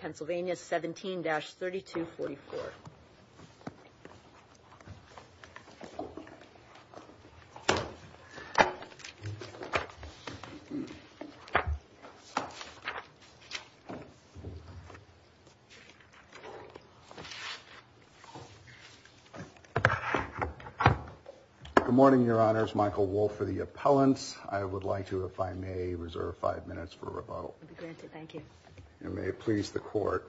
Pennsylvania 17-3244 Good morning, Your Honors. Michael Wolfe for the appellant. I would like to, if I may, reserve five minutes for rebuttal. Thank you. May it please the court.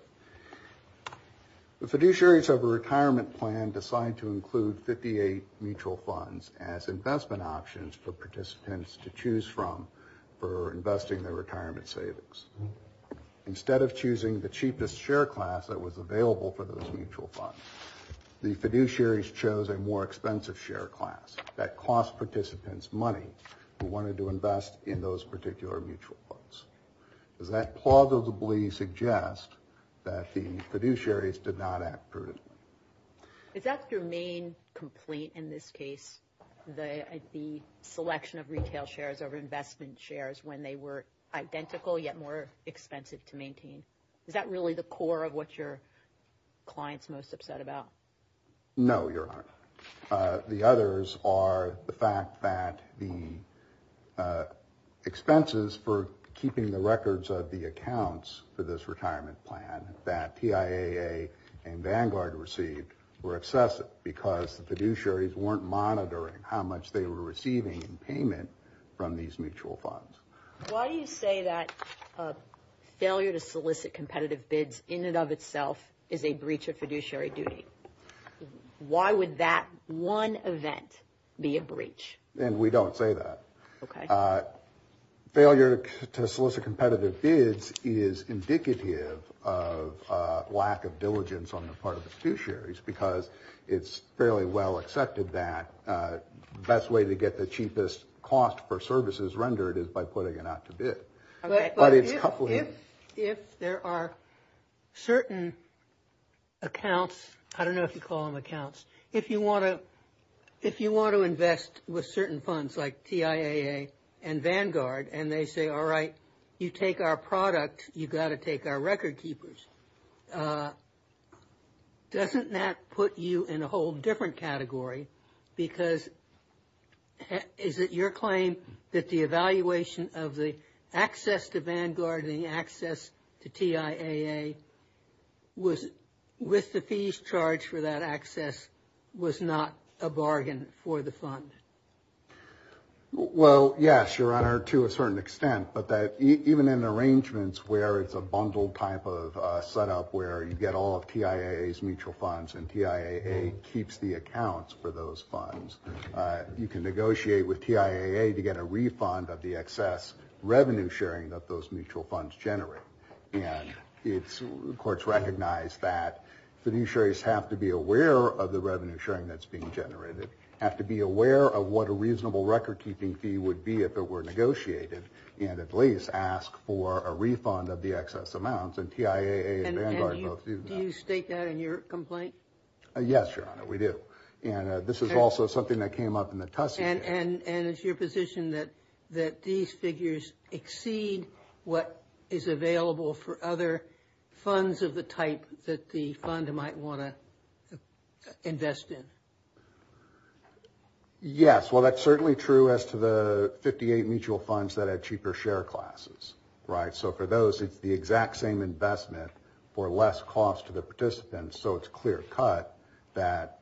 The fiduciaries of a retirement plan decide to include 58 mutual funds as investment options for participants to choose from for investing their retirement savings. Instead of choosing the cheapest share class that was available for those mutual funds, the fiduciaries chose a more expensive share class that cost participants money who wanted to invest in those particular mutual funds. Does that plausibly suggest that the fiduciaries did not act prudently? Is that your main complaint in this case, the selection of retail shares over investment shares when they were identical yet more expensive to maintain? Is that really the core of what your clients most upset about? No, Your Honor. The others are the fact that the expenses for keeping the records of the accounts for this retirement plan that TIAA and Vanguard received were excessive because the fiduciaries weren't monitoring how much they were receiving in payment from these mutual funds. Why do you say that failure to solicit competitive bids in and of itself is a breach of fiduciary duty? Why would that one event be a breach? And we don't say that. Failure to solicit competitive bids is indicative of lack of diligence on the part of the fiduciaries because it's fairly well accepted that the best way to get the cheapest cost for services rendered is by putting it out to bid. But if there are certain accounts, I don't know if you call them accounts, if you want to invest with certain funds like TIAA and Vanguard and they say, all right, you take our product, you've got to take our record keepers, doesn't that put you in a whole different category? Because is it your claim that the evaluation of the access to Vanguard and the access to TIAA was with the fees charged for that access was not a bargain for the fund? Well, yes, Your Honor, to a certain extent. But even in arrangements where it's a bundled type of setup where you get all of TIAA's mutual funds and TIAA keeps the accounts for those funds, you can negotiate with TIAA to get a refund of the excess revenue sharing that those mutual funds generate. And courts recognize that fiduciaries have to be aware of the revenue sharing that's being generated, have to be aware of what a reasonable record keeping fee would be if it were negotiated, and at least ask for a refund of the excess amounts. And TIAA and Vanguard both do that. And do you state that in your complaint? Yes, Your Honor, we do. And this is also something that came up in the Tussey case. And is your position that these figures exceed what is available for other funds of the type that the fund might want to invest in? Yes, well, that's certainly true as to the 58 mutual funds that had cheaper share classes, right? So for those, it's the exact same investment for less cost to the participants. So it's clear cut that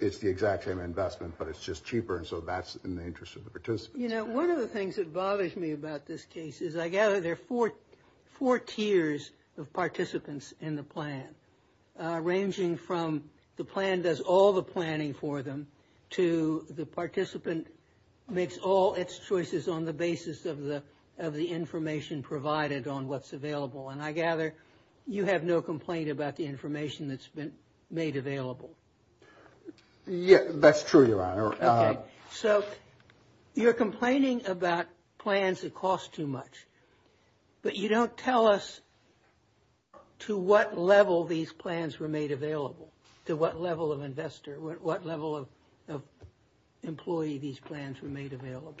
it's the exact same investment, but it's just cheaper. And so that's in the interest of the participants. You know, one of the things that bothers me about this case is I gather there are four tiers of participants in the plan, ranging from the plan does all the planning for them to the participant makes all its choices on the basis of the information provided on what's available. And I gather you have no complaint about the information that's been made available. Yeah, that's true, Your Honor. So you're complaining about plans that cost too much, but you don't tell us to what level these plans were made available, to what level of investor, what level of employee these plans were made available.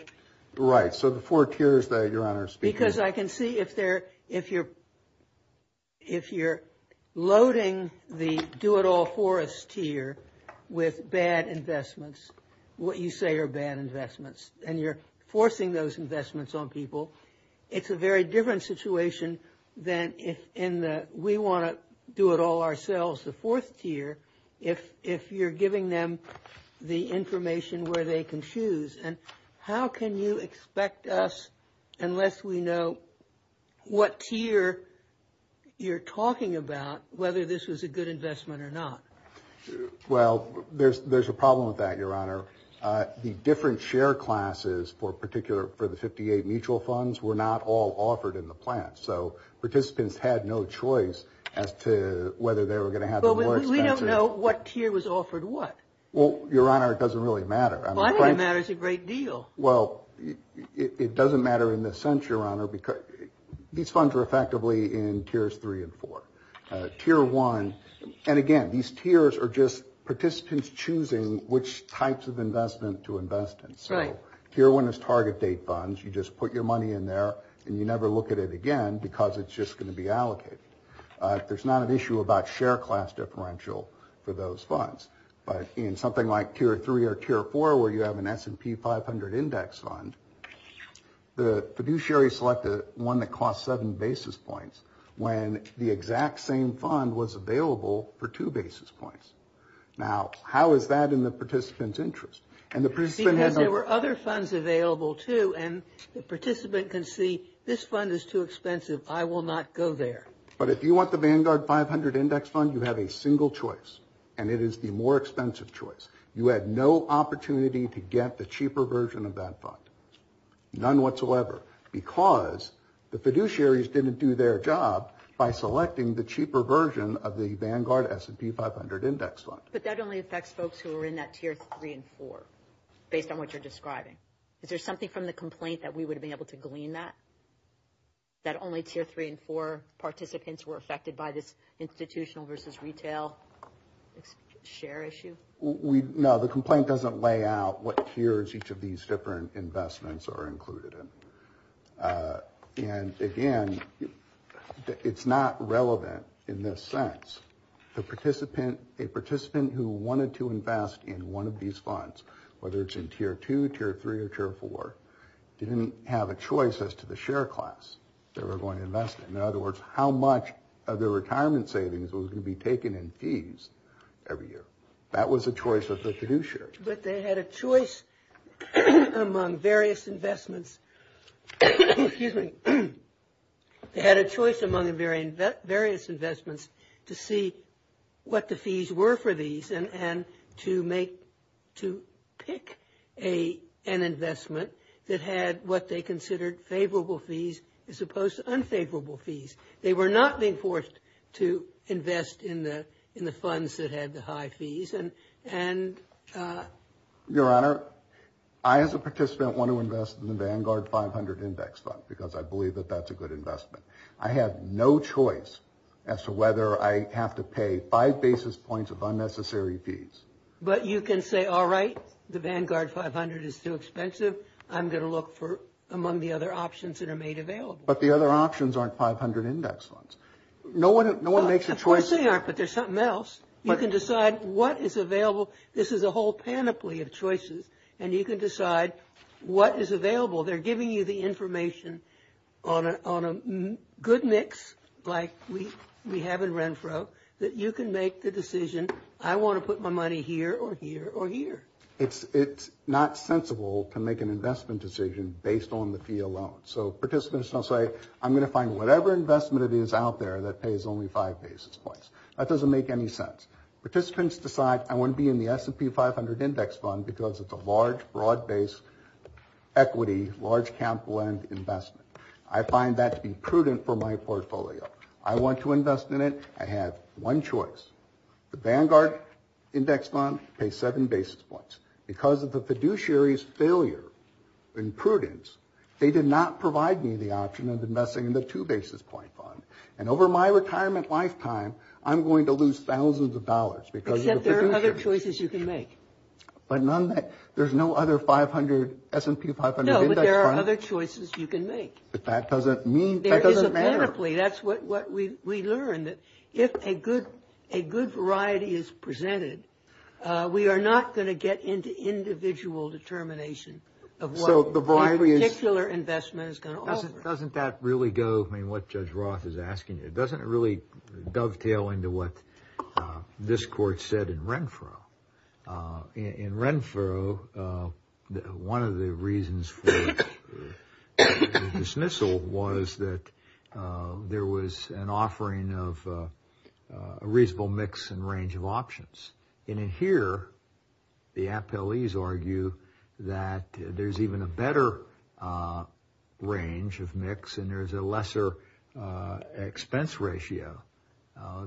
Right, so the four tiers that Your Honor is speaking of. How can you expect us, unless we know what tier you're talking about, whether this was a good investment or not? Well, there's a problem with that, Your Honor. The different share classes for the 58 mutual funds were not all offered in the plan. So participants had no choice as to whether they were going to have the lower expenses. But we don't know what tier was offered what. Well, Your Honor, it doesn't really matter. Well, I think it matters a great deal. Well, it doesn't matter in this sense, Your Honor, because these funds are effectively in tiers three and four. Tier one, and again, these tiers are just participants choosing which types of investment to invest in. Tier one is target date funds. You just put your money in there and you never look at it again because it's just going to be allocated. There's not an issue about share class differential for those funds. But in something like tier three or tier four where you have an S&P 500 index fund, the fiduciary selected one that costs seven basis points when the exact same fund was available for two basis points. Now, how is that in the participant's interest? Because there were other funds available, too, and the participant can see this fund is too expensive. I will not go there. But if you want the Vanguard 500 index fund, you have a single choice, and it is the more expensive choice. You had no opportunity to get the cheaper version of that fund, none whatsoever, because the fiduciaries didn't do their job by selecting the cheaper version of the Vanguard S&P 500 index fund. But that only affects folks who are in that tier three and four, based on what you're describing. Is there something from the complaint that we would have been able to glean that? That only tier three and four participants were affected by this institutional versus retail share issue? No, the complaint doesn't lay out what tiers each of these different investments are included in. And again, it's not relevant in this sense. The participant, a participant who wanted to invest in one of these funds, whether it's in tier two, tier three, or tier four, didn't have a choice as to the share class they were going to invest in. In other words, how much of their retirement savings was going to be taken in fees every year? That was a choice of the fiduciary. But they had a choice among various investments to see what the fees were for these and to pick an investment that had what they considered favorable fees as opposed to unfavorable fees. They were not being forced to invest in the funds that had the high fees. Your Honor, I as a participant want to invest in the Vanguard 500 Index Fund because I believe that that's a good investment. I have no choice as to whether I have to pay five basis points of unnecessary fees. But you can say, all right, the Vanguard 500 is too expensive. I'm going to look for among the other options that are made available. But the other options aren't 500 Index Funds. No one makes a choice. Yes, they are, but there's something else. You can decide what is available. This is a whole panoply of choices, and you can decide what is available. They're giving you the information on a good mix like we have in Renfro that you can make the decision, I want to put my money here or here or here. It's not sensible to make an investment decision based on the fee alone. So participants don't say, I'm going to find whatever investment it is out there that pays only five basis points. That doesn't make any sense. Participants decide, I want to be in the S&P 500 Index Fund because it's a large, broad-based equity, large capital end investment. I find that to be prudent for my portfolio. I want to invest in it. I have one choice. The Vanguard Index Fund pays seven basis points. Because of the fiduciary's failure and prudence, they did not provide me the option of investing in the two basis point fund. And over my retirement lifetime, I'm going to lose thousands of dollars because of the fiduciary. Except there are other choices you can make. But there's no other S&P 500 Index Fund. No, but there are other choices you can make. But that doesn't mean, that doesn't matter. That's what we learned, that if a good variety is presented, we are not going to get into individual determination of what a particular investment is going to offer. Doesn't that really go, I mean, what Judge Roth is asking you, doesn't it really dovetail into what this court said in Renfro? In Renfro, one of the reasons for the dismissal was that there was an offering of a reasonable mix and range of options. And in here, the appellees argue that there's even a better range of mix and there's a lesser expense ratio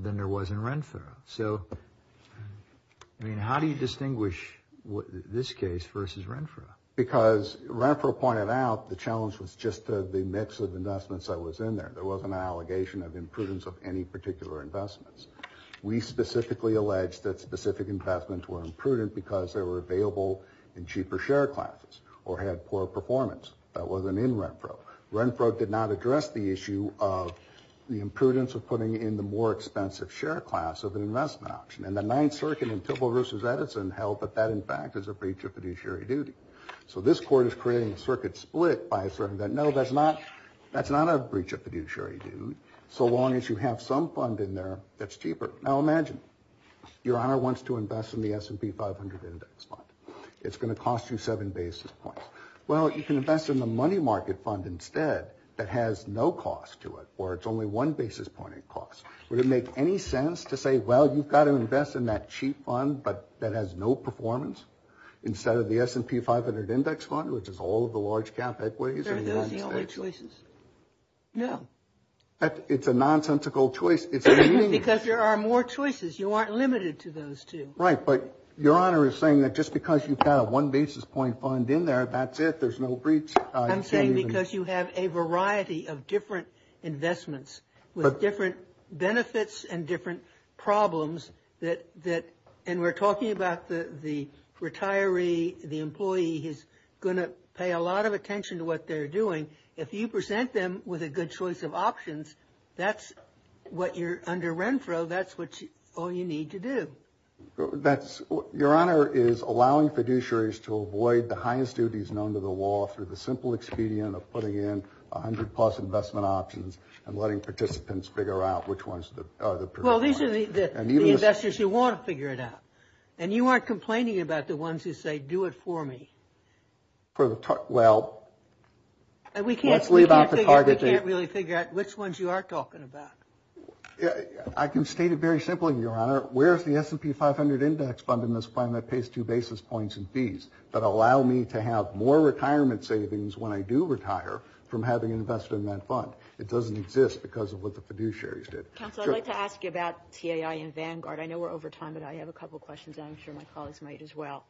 than there was in Renfro. So, I mean, how do you distinguish this case versus Renfro? Because Renfro pointed out the challenge was just the mix of investments that was in there. There wasn't an allegation of imprudence of any particular investments. We specifically alleged that specific investments were imprudent because they were available in cheaper share classes or had poor performance. That wasn't in Renfro. Renfro did not address the issue of the imprudence of putting in the more expensive share class of an investment option. And the Ninth Circuit in Tibble v. Edison held that that, in fact, is a breach of fiduciary duty. So this court is creating a circuit split by asserting that, no, that's not a breach of fiduciary duty, so long as you have some fund in there that's cheaper. Now imagine, your honor wants to invest in the S&P 500 index fund. It's going to cost you seven basis points. Well, you can invest in the money market fund instead that has no cost to it, or it's only one basis point in cost. Would it make any sense to say, well, you've got to invest in that cheap fund, but that has no performance, instead of the S&P 500 index fund, which is all of the large cap equities? Are those the only choices? No. It's a nonsensical choice. Because there are more choices. You aren't limited to those two. Right, but your honor is saying that just because you've got a one basis point fund in there, that's it, there's no breach. I'm saying because you have a variety of different investments with different benefits and different problems that, and we're talking about the retiree, the employee, is going to pay a lot of attention to what they're doing. If you present them with a good choice of options, that's what you're, under Renfro, that's all you need to do. Your honor is allowing fiduciaries to avoid the highest duties known to the law through the simple expedient of putting in 100 plus investment options and letting participants figure out which ones are the preferred ones. Well, these are the investors who want to figure it out, and you aren't complaining about the ones who say, do it for me. Well, let's leave out the targeting. We can't really figure out which ones you are talking about. I can state it very simply, your honor. Where is the S&P 500 index fund in this plan that pays two basis points and fees that allow me to have more retirement savings when I do retire from having invested in that fund? It doesn't exist because of what the fiduciaries did. Counsel, I'd like to ask you about TIA and Vanguard. I know we're over time, but I have a couple of questions, and I'm sure my colleagues might as well.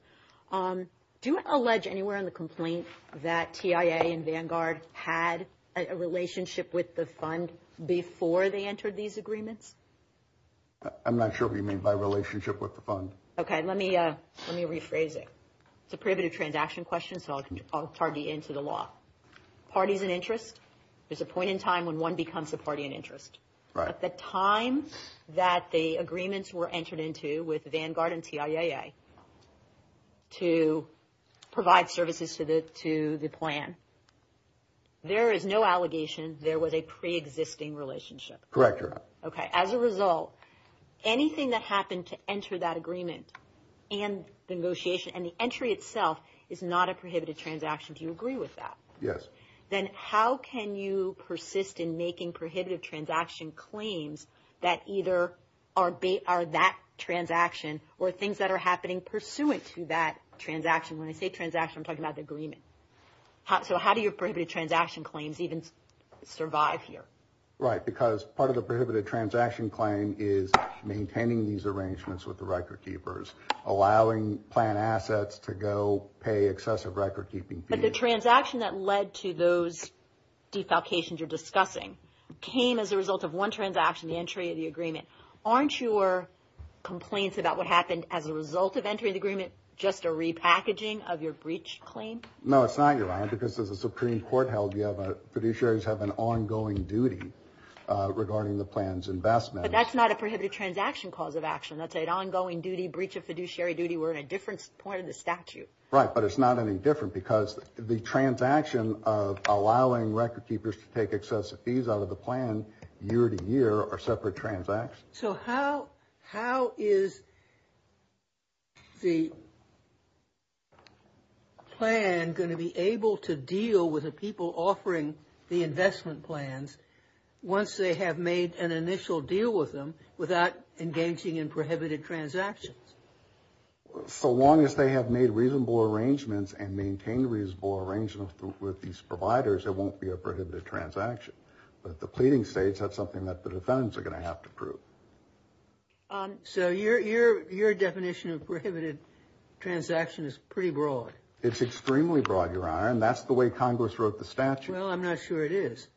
Do you allege anywhere in the complaint that TIA and Vanguard had a relationship with the fund before they entered these agreements? I'm not sure what you mean by relationship with the fund. Okay, let me rephrase it. It's a prohibitive transaction question, so I'll target you into the law. Parties and interest, there's a point in time when one becomes a party and interest. At the time that the agreements were entered into with Vanguard and TIAA to provide services to the plan, there is no allegation there was a preexisting relationship. Correct, your honor. Okay. As a result, anything that happened to enter that agreement and the negotiation and the entry itself is not a prohibited transaction. Then how can you persist in making prohibited transaction claims that either are that transaction or things that are happening pursuant to that transaction? When I say transaction, I'm talking about the agreement. So how do your prohibited transaction claims even survive here? Right, because part of the prohibited transaction claim is maintaining these arrangements with the record keepers, allowing plan assets to go pay excessive record keeping fees. The transaction that led to those defalcations you're discussing came as a result of one transaction, the entry of the agreement. Aren't your complaints about what happened as a result of entering the agreement just a repackaging of your breach claim? No, it's not, your honor, because as a Supreme Court held, fiduciaries have an ongoing duty regarding the plan's investment. But that's not a prohibited transaction cause of action. That's an ongoing duty, breach of fiduciary duty. We're in a different point of the statute. Right, but it's not any different because the transaction of allowing record keepers to take excessive fees out of the plan year to year are separate transactions. So how is the plan going to be able to deal with the people offering the investment plans once they have made an initial deal with them without engaging in prohibited transactions? So long as they have made reasonable arrangements and maintained reasonable arrangements with these providers, it won't be a prohibited transaction. But the pleading states that's something that the defendants are going to have to prove. So your definition of prohibited transaction is pretty broad. It's extremely broad, your honor, and that's the way Congress wrote the statute. Well, I'm not sure it is.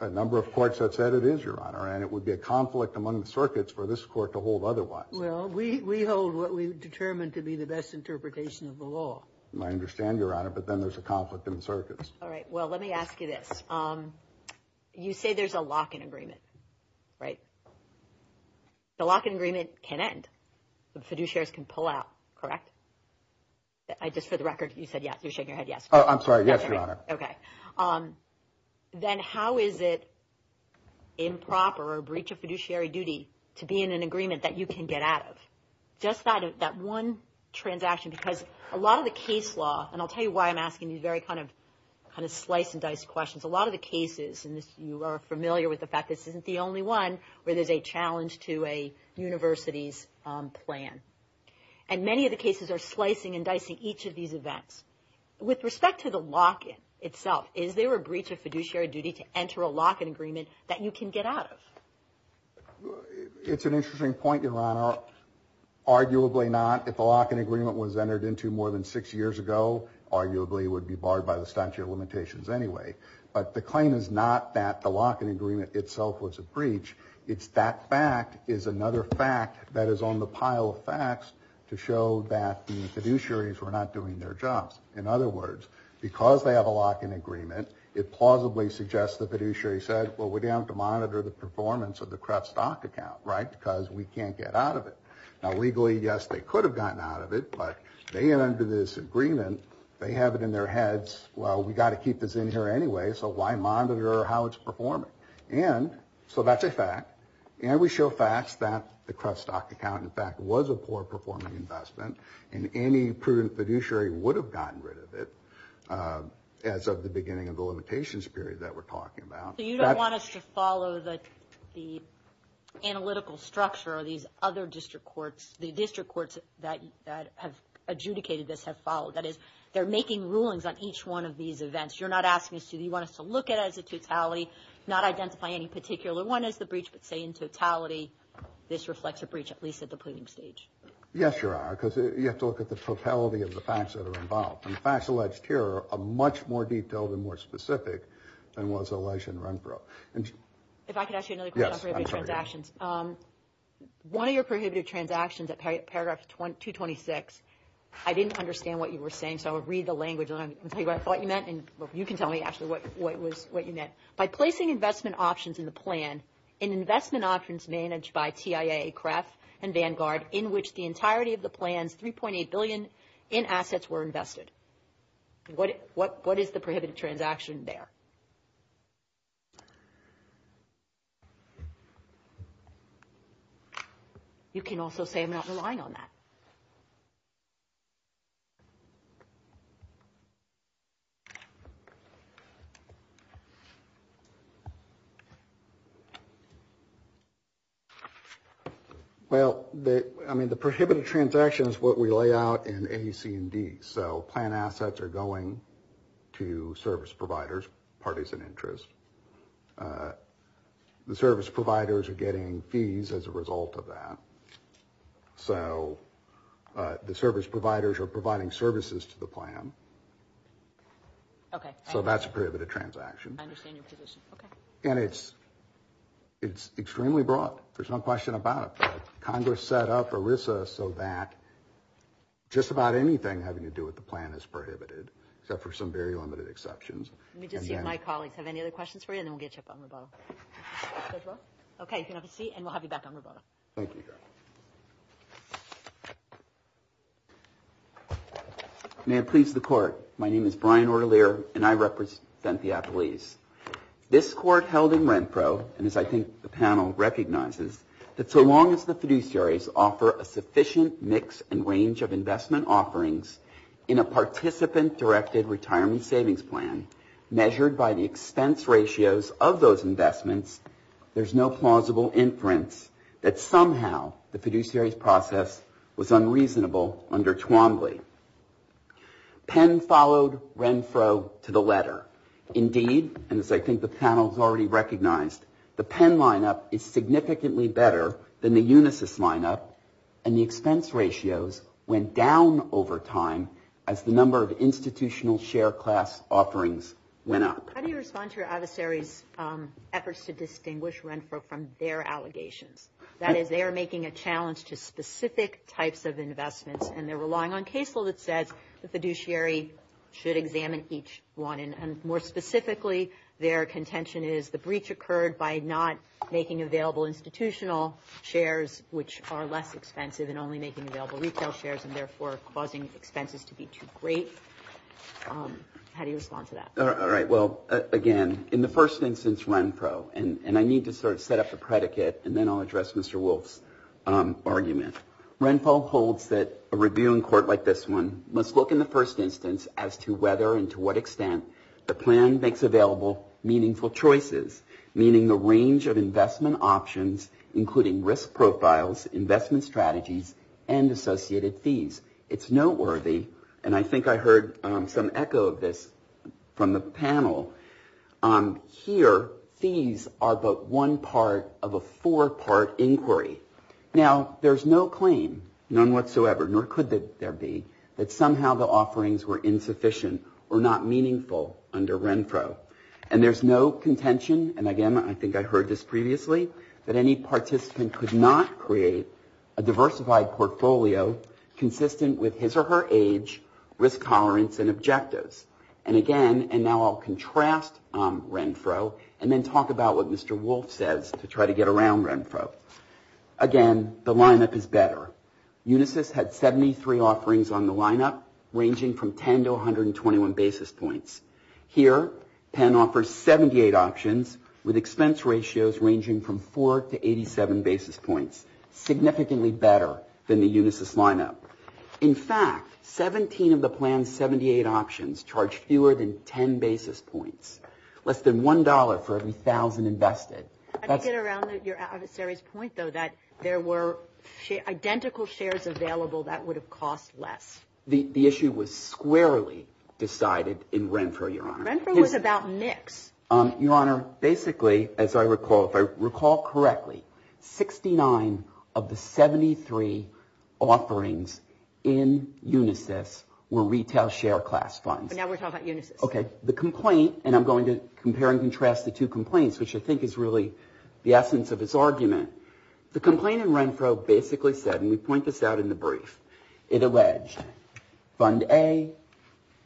A number of courts have said it is, your honor, and it would be a conflict among the circuits for this court to hold otherwise. We hold what we determine to be the best interpretation of the law. I understand, your honor, but then there's a conflict in the circuits. All right, well, let me ask you this. You say there's a lock-in agreement, right? The lock-in agreement can end. The fiduciaries can pull out, correct? Just for the record, you said yes. I'm sorry, yes, your honor. Okay. Then how is it improper or a breach of fiduciary duty to be in an agreement that you can get out of? Just that one transaction, because a lot of the case law, and I'll tell you why I'm asking these very kind of slice-and-dice questions. A lot of the cases, and you are familiar with the fact this isn't the only one where there's a challenge to a university's plan. And many of the cases are slicing and dicing each of these events. With respect to the lock-in itself, is there a breach of fiduciary duty to enter a lock-in agreement that you can get out of? It's an interesting point, your honor. Arguably not. If a lock-in agreement was entered into more than six years ago, arguably it would be barred by the statute of limitations anyway. But the claim is not that the lock-in agreement itself was a breach. It's that fact is another fact that is on the pile of facts to show that the fiduciaries were not doing their jobs. In other words, because they have a lock-in agreement, it plausibly suggests the fiduciary said, well, we're going to have to monitor the performance of the CREF stock account, right, because we can't get out of it. Now, legally, yes, they could have gotten out of it, but they entered this agreement. They have it in their heads. Well, we've got to keep this in here anyway, so why monitor how it's performing? And so that's a fact. And we show facts that the CREF stock account, in fact, was a poor-performing investment, and any prudent fiduciary would have gotten rid of it as of the beginning of the limitations period that we're talking about. So you don't want us to follow the analytical structure of these other district courts, the district courts that have adjudicated this have followed. That is, they're making rulings on each one of these events. You're not asking us to, you want us to look at it as a totality, not identify any particular one as the breach, but say in totality this reflects a breach, at least at the pleading stage. Yes, Your Honor, because you have to look at the totality of the facts that are involved. And the facts alleged here are much more detailed and more specific than was alleged in Renfro. If I could ask you another question on prohibitive transactions. Yes, I'm sorry. One of your prohibitive transactions at paragraph 226, I didn't understand what you were saying, so I'll read the language and tell you what I thought you meant, and you can tell me actually what you meant. By placing investment options in the plan, in investment options managed by TIA, CREF, and Vanguard, in which the entirety of the plan's $3.8 billion in assets were invested. What is the prohibited transaction there? You can also say I'm not relying on that. Well, I mean, the prohibited transaction is what we lay out in A, C, and D. So plan assets are going to service providers, parties of interest. The service providers are getting fees as a result of that. So the service providers are providing services to the plan. Okay. So that's a prohibited transaction. I understand your position. Okay. And it's extremely broad. There's no question about it. Congress set up ERISA so that just about anything having to do with the plan is prohibited, except for some very limited exceptions. Let me just see if my colleagues have any other questions for you, and then we'll get you up on the boat. Okay, you can have a seat, and we'll have you back on the boat. Thank you. May it please the Court. My name is Brian Ortelier, and I represent the applees. This Court held in Renfro, and as I think the panel recognizes, that so long as the fiduciaries offer a sufficient mix and range of investment offerings in a participant-directed retirement savings plan, measured by the expense ratios of those investments, there's no plausible inference that somehow the fiduciaries' process was unreasonable under Twombly. Penn followed Renfro to the letter. Indeed, and as I think the panel has already recognized, the Penn lineup is significantly better than the Unisys lineup, and the expense ratios went down over time as the number of institutional share class offerings went up. How do you respond to your adversary's efforts to distinguish Renfro from their allegations? That is, they are making a challenge to specific types of investments, and they're relying on case law that says the fiduciary should examine each one, and more specifically, their contention is the breach occurred by not making available institutional shares, which are less expensive, and only making available retail shares, and therefore causing expenses to be too great. How do you respond to that? All right, well, again, in the first instance, Renfro, and I need to sort of set up a predicate, and then I'll address Mr. Wolf's argument. Renfro holds that a review in court like this one must look in the first instance as to whether and to what extent the plan makes available meaningful choices, meaning the range of investment options, including risk profiles, investment strategies, and associated fees. It's noteworthy, and I think I heard some echo of this from the panel, here fees are but one part of a four-part inquiry. Now, there's no claim, none whatsoever, nor could there be, that somehow the offerings were insufficient or not meaningful under Renfro, and there's no contention, and again, I think I heard this previously, that any participant could not create a diversified portfolio consistent with his or her age, risk tolerance, and objectives. And again, and now I'll contrast Renfro, and then talk about what Mr. Wolf says to try to get around Renfro. Again, the lineup is better. Unisys had 73 offerings on the lineup, ranging from 10 to 121 basis points. Here, Penn offers 78 options with expense ratios ranging from 4 to 87 basis points, significantly better than the Unisys lineup. In fact, 17 of the plan's 78 options charge fewer than 10 basis points, less than $1 for every 1,000 invested. I did get around your adversary's point, though, that there were identical shares available that would have cost less. The issue was squarely decided in Renfro, Your Honor. Renfro was about mix. Your Honor, basically, as I recall, if I recall correctly, 69 of the 73 offerings in Unisys were retail share class funds. But now we're talking about Unisys. Okay, the complaint, and I'm going to compare and contrast the two complaints, which I think is really the essence of this argument. The complaint in Renfro basically said, and we point this out in the brief, it alleged Fund A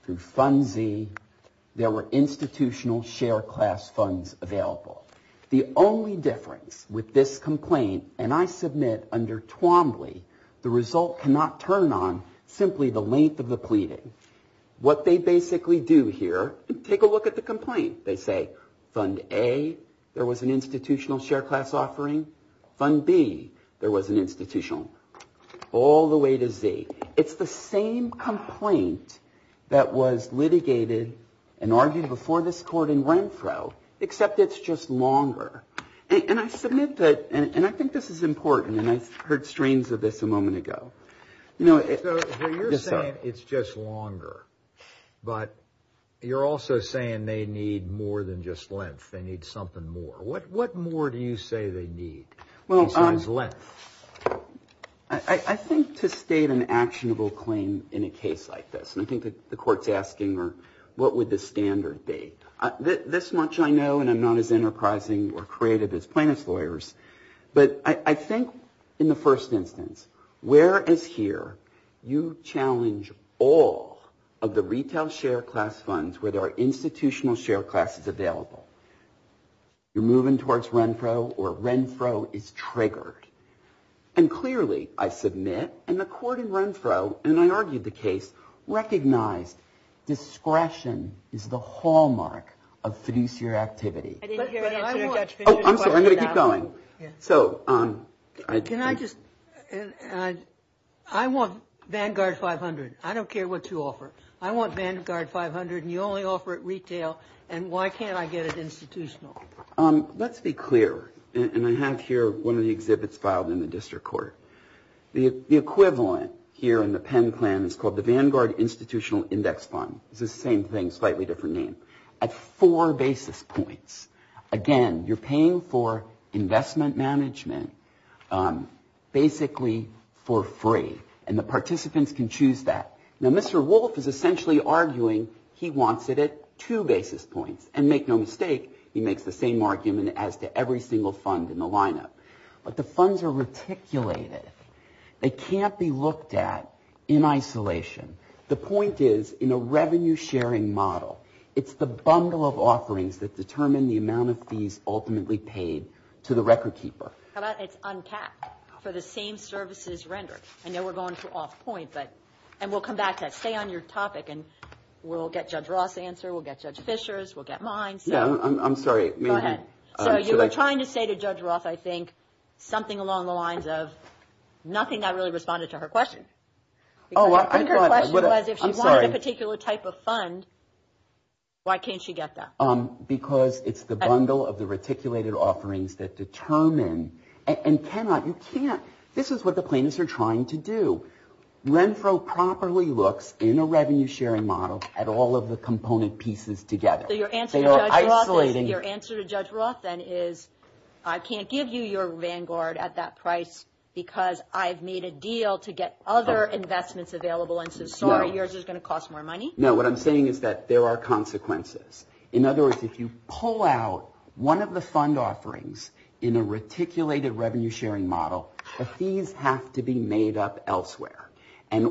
through Fund Z, there were institutional share class funds available. The only difference with this complaint, and I submit under Twombly, the result cannot turn on simply the length of the pleading. What they basically do here, take a look at the complaint. They say Fund A, there was an institutional share class offering. Fund B, there was an institutional. All the way to Z. It's the same complaint that was litigated and argued before this court in Renfro, except it's just longer. And I submit that, and I think this is important, and I heard strains of this a moment ago. So you're saying it's just longer, but you're also saying they need more than just length. They need something more. What more do you say they need besides length? I think to state an actionable claim in a case like this, I think the court's asking, what would the standard be? This much I know, and I'm not as enterprising or creative as plaintiff's lawyers, but I think in the first instance, whereas here you challenge all of the retail share class funds where there are institutional share classes available. You're moving towards Renfro, or Renfro is triggered. And clearly, I submit, and the court in Renfro, and I argued the case, recognized discretion is the hallmark of fiduciary activity. Oh, I'm sorry, I'm going to keep going. Can I just, I want Vanguard 500. I don't care what you offer. I want Vanguard 500, and you only offer it retail, and why can't I get it institutional? Let's be clear. And I have here one of the exhibits filed in the district court. The equivalent here in the Penn plan is called the Vanguard Institutional Index Fund. It's the same thing, slightly different name. It's four basis points. Again, you're paying for investment management basically for free, and the participants can choose that. Now, Mr. Wolf is essentially arguing he wants it at two basis points. And make no mistake, he makes the same argument as to every single fund in the lineup. But the funds are reticulated. They can't be looked at in isolation. The point is, in a revenue sharing model, it's the bundle of offerings that determine the amount of fees ultimately paid to the record keeper. How about it's uncapped for the same services rendered? I know we're going to off point, and we'll come back to that. Stay on your topic, and we'll get Judge Roth's answer, we'll get Judge Fisher's, we'll get mine. I'm sorry. Go ahead. So you were trying to say to Judge Roth, I think, something along the lines of nothing that really responded to her question. I think her question was if she wanted a particular type of fund, why can't she get that? Because it's the bundle of the reticulated offerings that determine and cannot, you can't, this is what the plaintiffs are trying to do. Renfro properly looks in a revenue sharing model at all of the component pieces together. So your answer to Judge Roth, your answer to Judge Roth then is I can't give you your Vanguard at that price because I've made a deal to get other investments available, and so sorry, yours is going to cost more money? No, what I'm saying is that there are consequences. In other words, if you pull out one of the fund offerings in a reticulated revenue sharing model, the fees have to be made up elsewhere,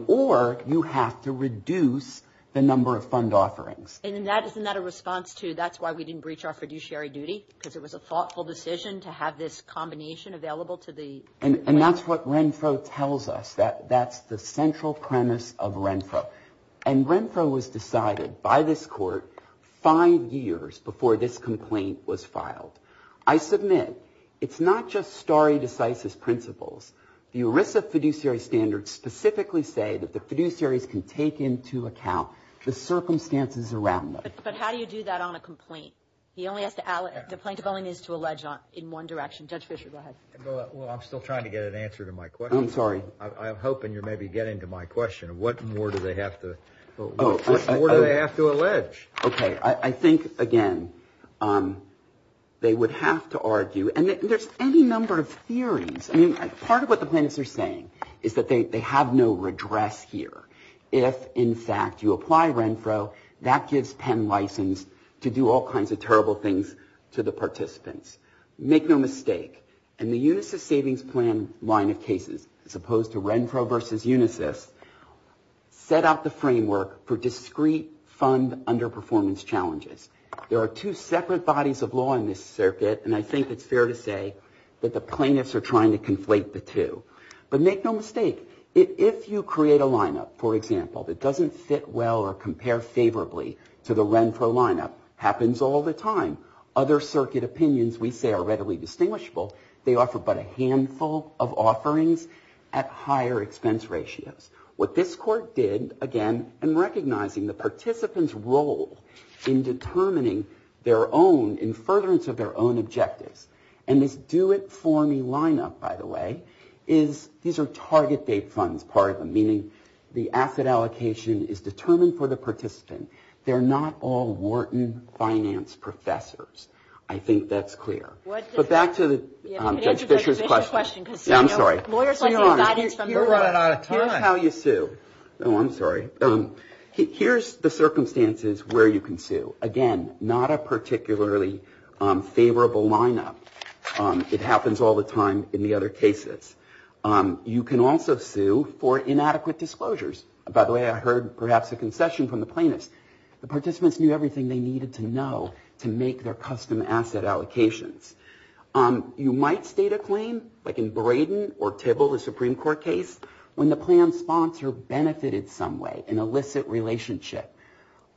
or you have to reduce the number of fund offerings. And isn't that a response to that's why we didn't breach our fiduciary duty because it was a thoughtful decision to have this combination available to the plaintiffs? And that's what Renfro tells us. That's the central premise of Renfro. And Renfro was decided five years before this complaint was filed. I submit, it's not just stare decisis principles. The ERISA fiduciary standards specifically say that the fiduciaries can take into account the circumstances around them. But how do you do that on a complaint? The plaintiff only needs to allege in one direction. Judge Fischer, go ahead. Well, I'm still trying to get an answer to my question. I'm sorry. I'm hoping you're maybe getting to my question. What more do they have to allege? Okay. I think, again, they would have to argue and there's any number of theories. I mean, part of what the plaintiffs are saying is that they have no redress here. If, in fact, you apply Renfro, that gives Penn license to do all kinds of terrible things to the participants. Make no mistake. In the Unisys savings plan line of cases, as opposed to Renfro versus Unisys, set out the framework for discrete fund underperformance challenges. There are two separate bodies of law in this circuit and I think it's fair to say that the plaintiffs are trying to conflate the two. But make no mistake. If you create a lineup, for example, that doesn't fit well or compare favorably to the Renfro lineup, happens all the time. Other circuit opinions, we say, are readily distinguishable. They offer but a handful of offerings at higher expense ratios. What this court did, again, in recognizing the participant's role in determining their own, in furtherance of their own objectives, and this do-it-for-me lineup, by the way, is these are target date funds part of them, meaning the asset allocation is determined for the participant. They're not all Wharton finance professors. I think that's clear. But back to Judge Fischer's question. I'm sorry. You're running out of time. Here's how you sue. Oh, I'm sorry. Here's the circumstances where you can sue. Again, not a particularly favorable lineup. It happens all the time in the other cases. You can also sue for inadequate disclosures. By the way, I heard, perhaps, a concession from the plaintiffs. The participants knew everything they needed to know to make their custom asset allocations. You might state a claim, like in Braden or Tibble, the Supreme Court case, when the plan sponsor benefited some way, an illicit relationship.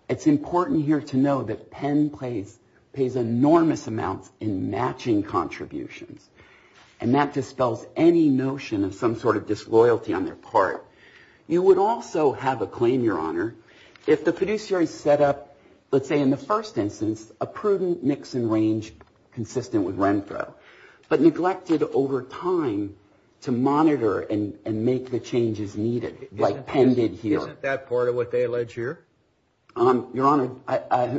It's important here to know that Penn pays enormous amounts in matching contributions, and that dispels any notion of some sort of disloyalty on their part. You would also have a claim, Your Honor, if the producer had set up, let's say in the first instance, a prudent mix and range consistent with Renfro, but neglected over time to monitor and make the changes needed, like Penn did here. Isn't that part of what they allege here? Your Honor,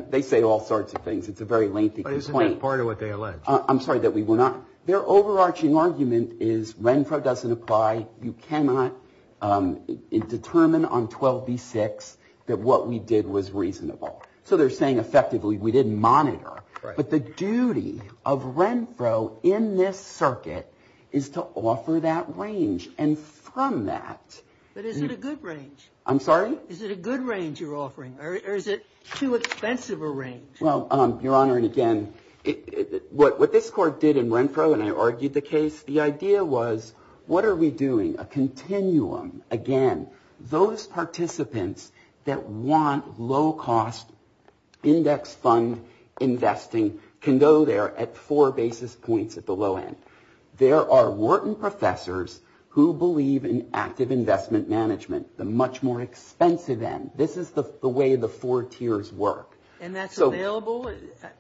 they say all sorts of things. It's a very lengthy complaint. But isn't that part of what they allege? I'm sorry, that we were not... Their overarching argument is Renfro doesn't apply. You cannot determine on 12b-6 that what we did was reasonable. So they're saying, effectively, we didn't monitor. But the duty of Renfro in this circuit is to offer that range. And from that... But is it a good range? I'm sorry? Is it a good range you're offering, or is it too expensive a range? Well, Your Honor, and again, what this court did in Renfro, and I argued the case, the idea was, what are we doing? A continuum. Again, those participants that want low-cost index fund investing can go there at four basis points at the low end. There are Wharton professors who believe in active investment management, the much more expensive end. This is the way the four tiers work. And that's available?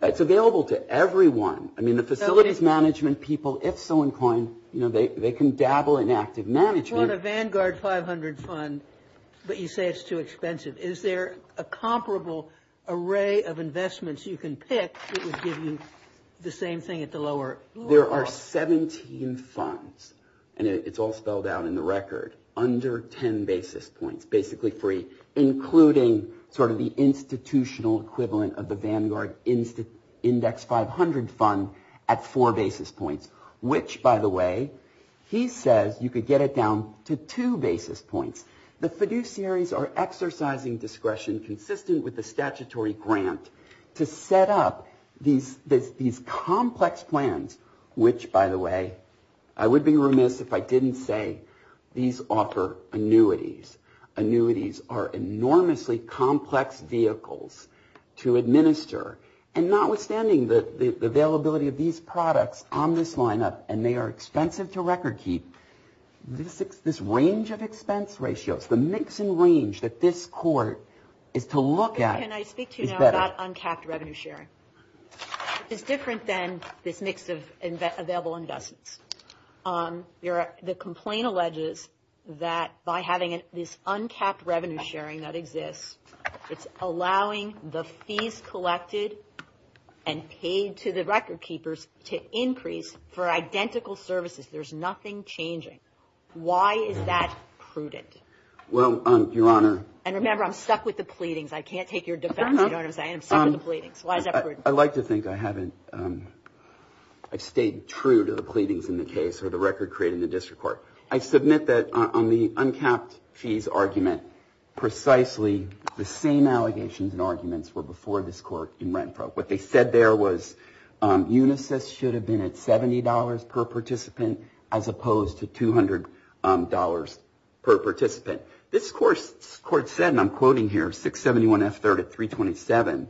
It's available to everyone. I mean, the facilities management people, if so inclined, they can dabble in active management. You want a Vanguard 500 fund, but you say it's too expensive. Is there a comparable array of investments you can pick that would give you the same thing at the lower cost? There are 17 funds, and it's all spelled out in the record, under 10 basis points, basically free, including sort of the institutional equivalent of the Vanguard Index 500 fund at four basis points, which, by the way, he says you could get it down to two basis points. The fiduciaries are exercising discretion consistent with the statutory grant to set up these complex plans, which, by the way, I would be remiss if I didn't say these offer annuities. Annuities are enormously complex vehicles to administer. And notwithstanding the availability of these products on this lineup, and they are expensive to record keep, this range of expense ratios, the mix and range that this court is to look at is better. Can I speak to you now about uncapped revenue sharing? It's different than this mix of available investments. The complaint alleges that by having this uncapped revenue sharing that exists, it's allowing the fees collected and paid to the record keepers to increase for identical services. There's nothing changing. Why is that prudent? Well, Your Honor. And remember, I'm stuck with the pleadings. I can't take your defense. You know what I'm saying? I'm stuck with the pleadings. Why is that prudent? I'd like to think I haven't stayed true to the pleadings in the case or the record created in the district court. I submit that on the uncapped fees argument, precisely the same allegations and arguments were before this court in Rent Pro. What they said there was Unisys should have been at $70 per participant as opposed to $200 per participant. This court said, and I'm quoting here, 671F3rd at 327,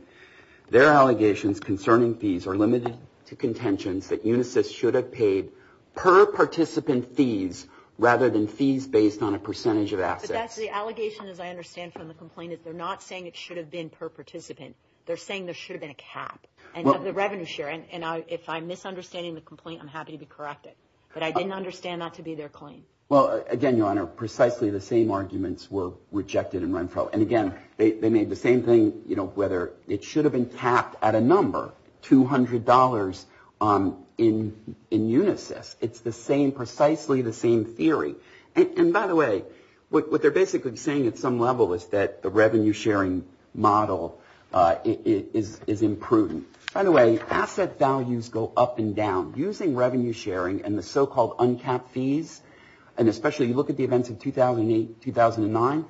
their allegations concerning fees are limited to contentions that Unisys should have paid per participant fees rather than fees based on a percentage of assets. But that's the allegation, as I understand from the complaint, that they're not saying it should have been per participant. They're saying there should have been a cap of the revenue share. And if I'm misunderstanding the complaint, I'm happy to be corrected. But I didn't understand that to be their claim. Well, again, Your Honor, precisely the same arguments were rejected in Rent Pro. And again, they made the same thing, you know, whether it should have been capped at a number, $200 in Unisys. It's the same, precisely the same theory. And by the way, what they're basically saying at some level is that the revenue sharing model is imprudent. By the way, asset values go up and down. Using revenue sharing and the so-called uncapped fees, and especially you look at the events of 2008, 2009,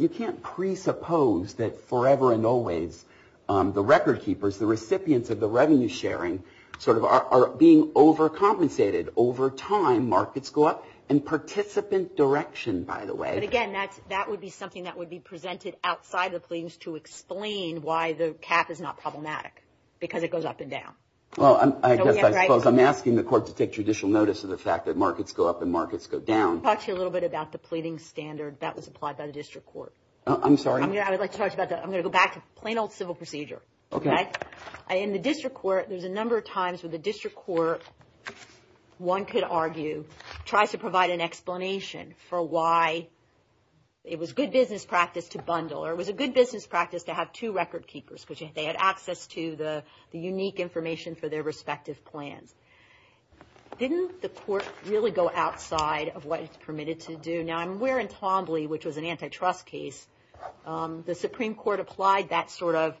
you can't presuppose that forever and always the record keepers, the recipients of the revenue sharing, sort of, are being overcompensated. Over time, markets go up in participant direction, by the way. But again, that would be something that would be presented outside the pleadings to explain why the cap is not problematic, because it goes up and down. Well, I guess I suppose I'm asking the court to take judicial notice of the fact that markets go up and markets go down. I'll talk to you a little bit about the pleading standard that was applied by the district court. I'm sorry? I would like to talk to you about that. I'm going to go back to plain old civil procedure. Okay. In the district court, there's a number of times where the district court, one could argue, tries to provide an explanation for why it was good business practice to bundle, or it was a good business practice to have two record keepers, because they had access to the unique information for their respective plans. Didn't the court really go outside of what it's permitted to do? Now, I'm aware in Tombley, which was an antitrust case, the Supreme Court applied that sort of,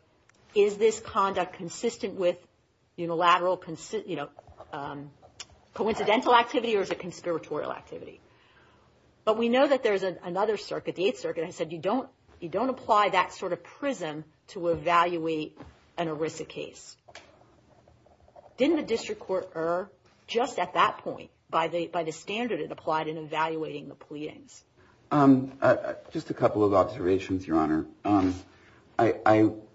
is this conduct consistent with unilateral, you know, coincidental activity or is it conspiratorial activity? But we know that there's another circuit, the Eighth Circuit, that said you don't apply that sort of prism to evaluate an ERISA case. Didn't the district court err just at that point by the standard that it applied in evaluating the pleadings? Just a couple of observations, Your Honor.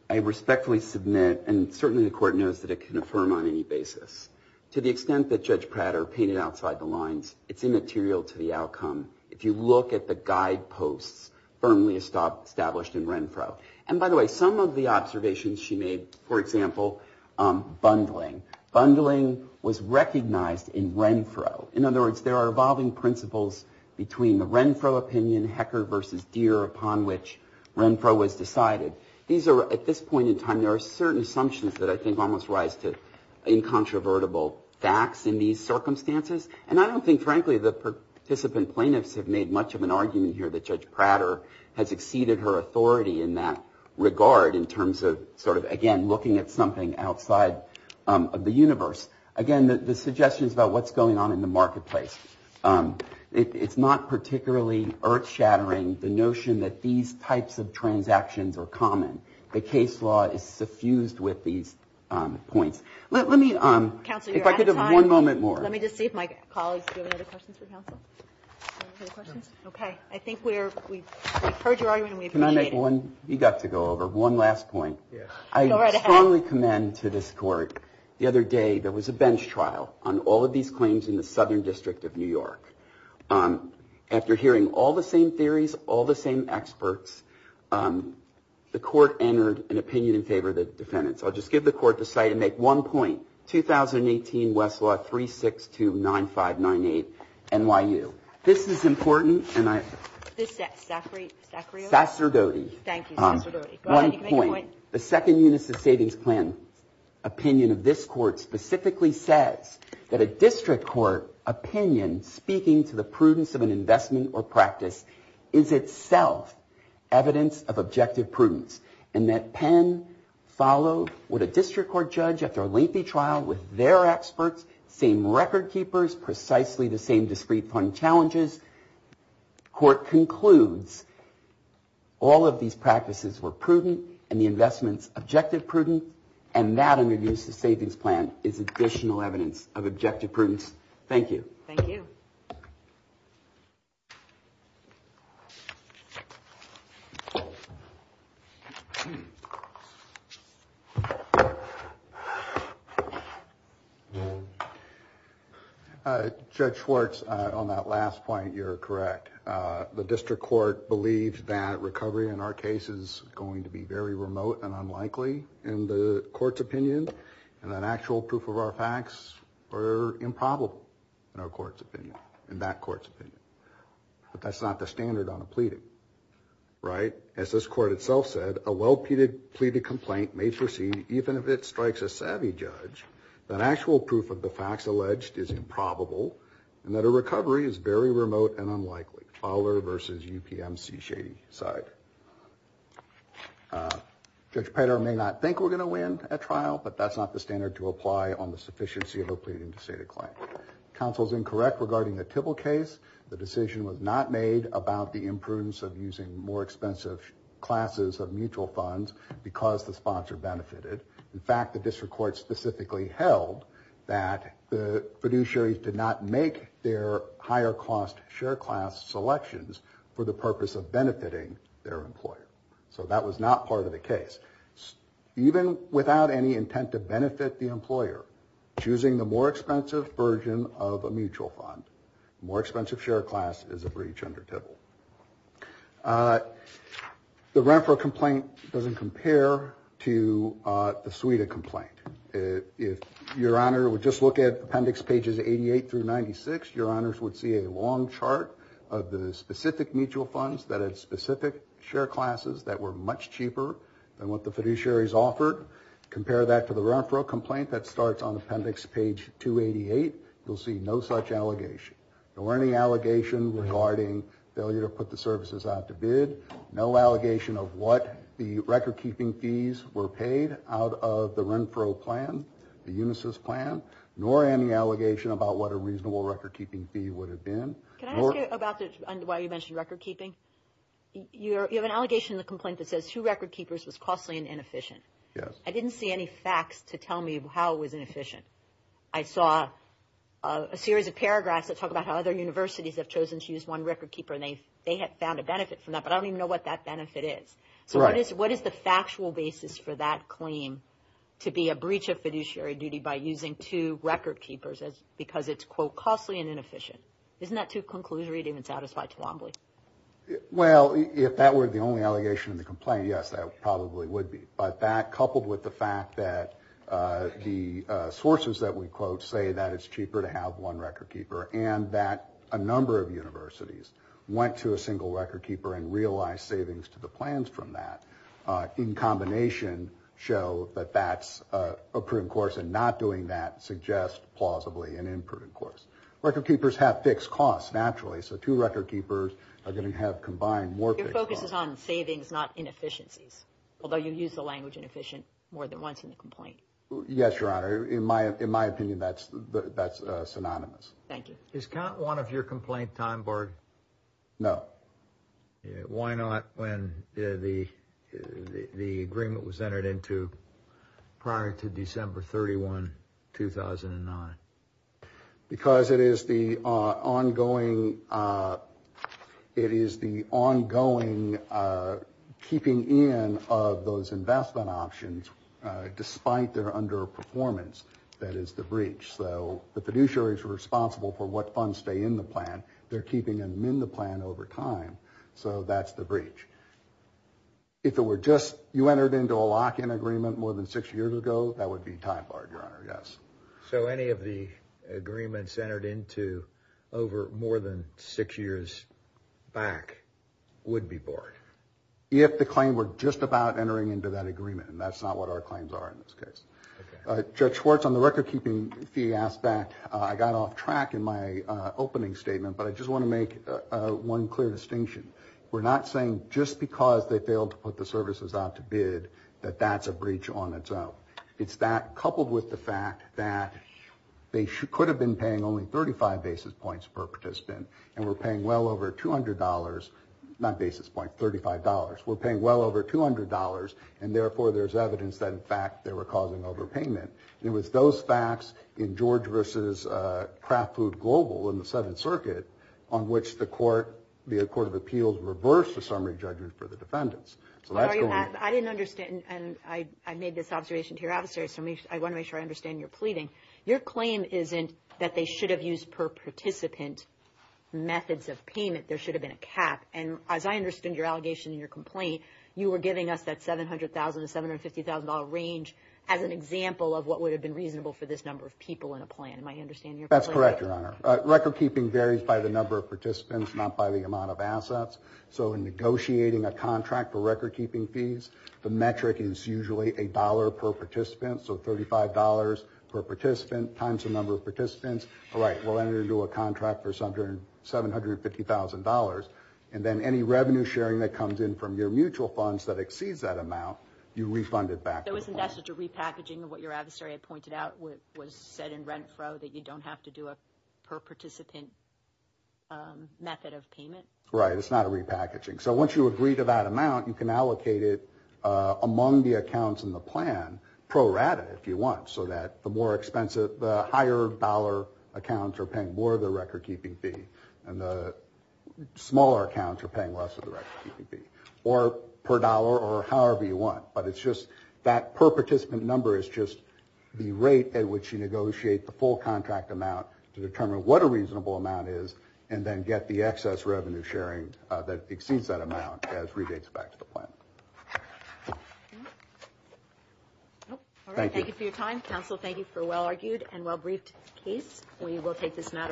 I respectfully submit, and certainly the court knows that it can affirm on any basis, to the extent that Judge Prater painted outside the lines, it's immaterial to the outcome. If you look at the guideposts firmly established in Renfro, and by the way, some of the observations she made, for example, bundling. Bundling was recognized in Renfro. In other words, there are evolving principles between the Renfro opinion, Hecker versus Deere, upon which Renfro was decided. These are, at this point in time, there are certain assumptions that I think almost rise to incontrovertible facts in these circumstances. And I don't think, frankly, the participant plaintiffs have made much of an argument here that Judge Prater has exceeded her authority in that regard in terms of, sort of, again, looking at something outside of the universe. Again, the suggestions about what's going on in the marketplace. It's not particularly earth-shattering, the notion that these types of transactions are common. The case law is suffused with these points. Let me, if I could have one moment more. Let me just see if my colleagues, do you have any other questions for counsel? Any other questions? Okay. I think we've heard your argument and we appreciate it. Can I make one, you got to go over, one last point. Go right ahead. I strongly commend to this court, the other day, there was a bench trial on all of these claims in the Southern District of New York. After hearing all the same theories, all the same experts, the court entered an opinion in favor of the defendants. I'll just give the court the site and make one point. 2018 Westlaw 3629598, NYU. This is important and I, Sacrio? Sacerdote. Thank you, Sacerdote. Go ahead, you can make a point. One point. The second unit of the savings plan opinion of this court specifically says that a district court opinion speaking to the prudence of an investment or practice is itself evidence of objective prudence and that Penn followed what a district court judge after a lengthy trial with their experts, same record keepers, precisely the same discrete fund challenges. Court concludes all of these practices were prudent and the investments objective prudent and that under the use of savings plan is additional evidence of objective prudence. Thank you. Thank you. Judge Schwartz, on that last point, you're correct. The district court believes that recovery in our case is going to be very remote and unlikely in the court's opinion and an actual proof of our facts are improbable in our court's opinion, in that court's opinion. But that's not the standard on a pleading. Right? As this court itself said, a well pleaded complaint may proceed even if it strikes a savvy judge that actual proof of the facts alleged is improbable and that a recovery is very remote and unlikely. Fowler versus UPMC shady side. Judge Petter may not think we're going to win a trial but that's not the standard to apply on the sufficiency of a pleading to state a claim. Counsel's incorrect regarding the Tibble case. The decision was not made about the imprudence of using more expensive classes of mutual funds because the sponsor benefited. In fact, the district court specifically held that the fiduciary did not make their higher cost share class selections for the purpose of benefiting their employer. So that was not part of the case. Even without any intent to benefit the employer choosing the more expensive version of a mutual fund. More expensive share class is a breach under Tibble. The Renfro complaint doesn't compare to the Suida complaint. If your honor would just look at appendix pages 88 through 96 your honors would see a long chart of the specific mutual funds that had specific share classes that were much cheaper than what the fiduciaries offered. Compare that to the Renfro complaint that starts on appendix page 288 you'll see no such allegation. Nor any allegation regarding failure to put the services out to bid. No allegation of what the record keeping fees were paid out of the Renfro plan, the Unisys plan. Nor any allegation about what a reasonable record keeping fee would have been. Can I ask you about why you mentioned record keeping? You have an allegation in the complaint that says two record keepers was costly and inefficient. Yes. I didn't see any facts to tell me how it was inefficient. I saw a series of paragraphs that talk about how other universities have chosen to use one record keeper and they have found a benefit from that but I don't even know what that benefit is. Right. So what is the factual basis for that claim to be a breach of fiduciary duty by using two record keepers because it's quote costly and inefficient? Isn't that too conclusory to even satisfy Twombly? Well, if that were the only allegation in the complaint, yes, that probably would be. But that coupled with the fact that the sources that we quote say that it's cheaper to have one record keeper and that a number of universities went to a single record keeper and realized savings to the plans from that in combination show that that's a proven course and not doing that suggests plausibly an unproven course. Record keepers have fixed costs naturally so two record keepers are going to have to combine more fixed costs. Your focus is on savings, not inefficiencies, although you use the language inefficient more than once in the complaint. Yes, Your Honor. In my opinion, that's synonymous. Thank you. Is count one of your complaint time barred? No. Why not when the agreement was entered into prior to December 31, 2009? Because it is the ongoing keeping in of those investment options despite their underperformance. That is the breach. So the fiduciary is responsible for what funds stay in the plan. They're keeping them in the plan over time. So that's the breach. If it were just you entered into a lock-in agreement more than six years ago, that would be time barred, Your Honor. Yes. So any of the agreements entered into over more than six years back, would be barred. If the claim were just about entering into that agreement. And that's not what our claims are in this case. Judge Schwartz, on the record-keeping fee aspect, I got off track in my opening statement, but I just want to make one clear distinction. We're not saying just because they failed to put the services out to bid that that's a breach on its own. It's that coupled with the fact that they could have been paying only 35 basis points per participant and were paying well over $200, not basis points, $35. Were paying well over $200 and therefore there's evidence that in fact they were causing overpayment. It was those facts in George versus Kraft Food Global in the Seventh Circuit on which the Court of Appeals reversed the summary judgment for the defendants. I didn't understand and I made this observation to your officer so I want to make sure I understand your pleading. Your claim isn't that they should have used per participant methods of payment. There should have been a cap. And as I understood your allegation and your complaint, you were giving us that $700,000 to $750,000 range as an example of what would have been reasonable for this number of people in a plan. Am I understanding your claim? That's correct, Your Honor. Record keeping varies by the number of participants, not by the amount of assets. So in negotiating a contract for $750,000 and then any revenue sharing that comes in from your mutual funds that exceeds that amount, you refund it back. There wasn't necessary repackaging of what your adversary had pointed out was said in rent fro that you don't have to do a per participant method of payment? Right. It's not a repackaging. So once you agree to that amount, you can allocate it among the accounts in the plan pro rata if you want. The higher dollar accounts are paying more of the record keeping fee and the smaller accounts are paying less of the record keeping fee or per dollar or however you want. But that per participant number is just the rate at which you negotiate the full contract amount to determine what a reasonable amount is and then get the excess revenue sharing that exceeds that amount as well. Thank you very much.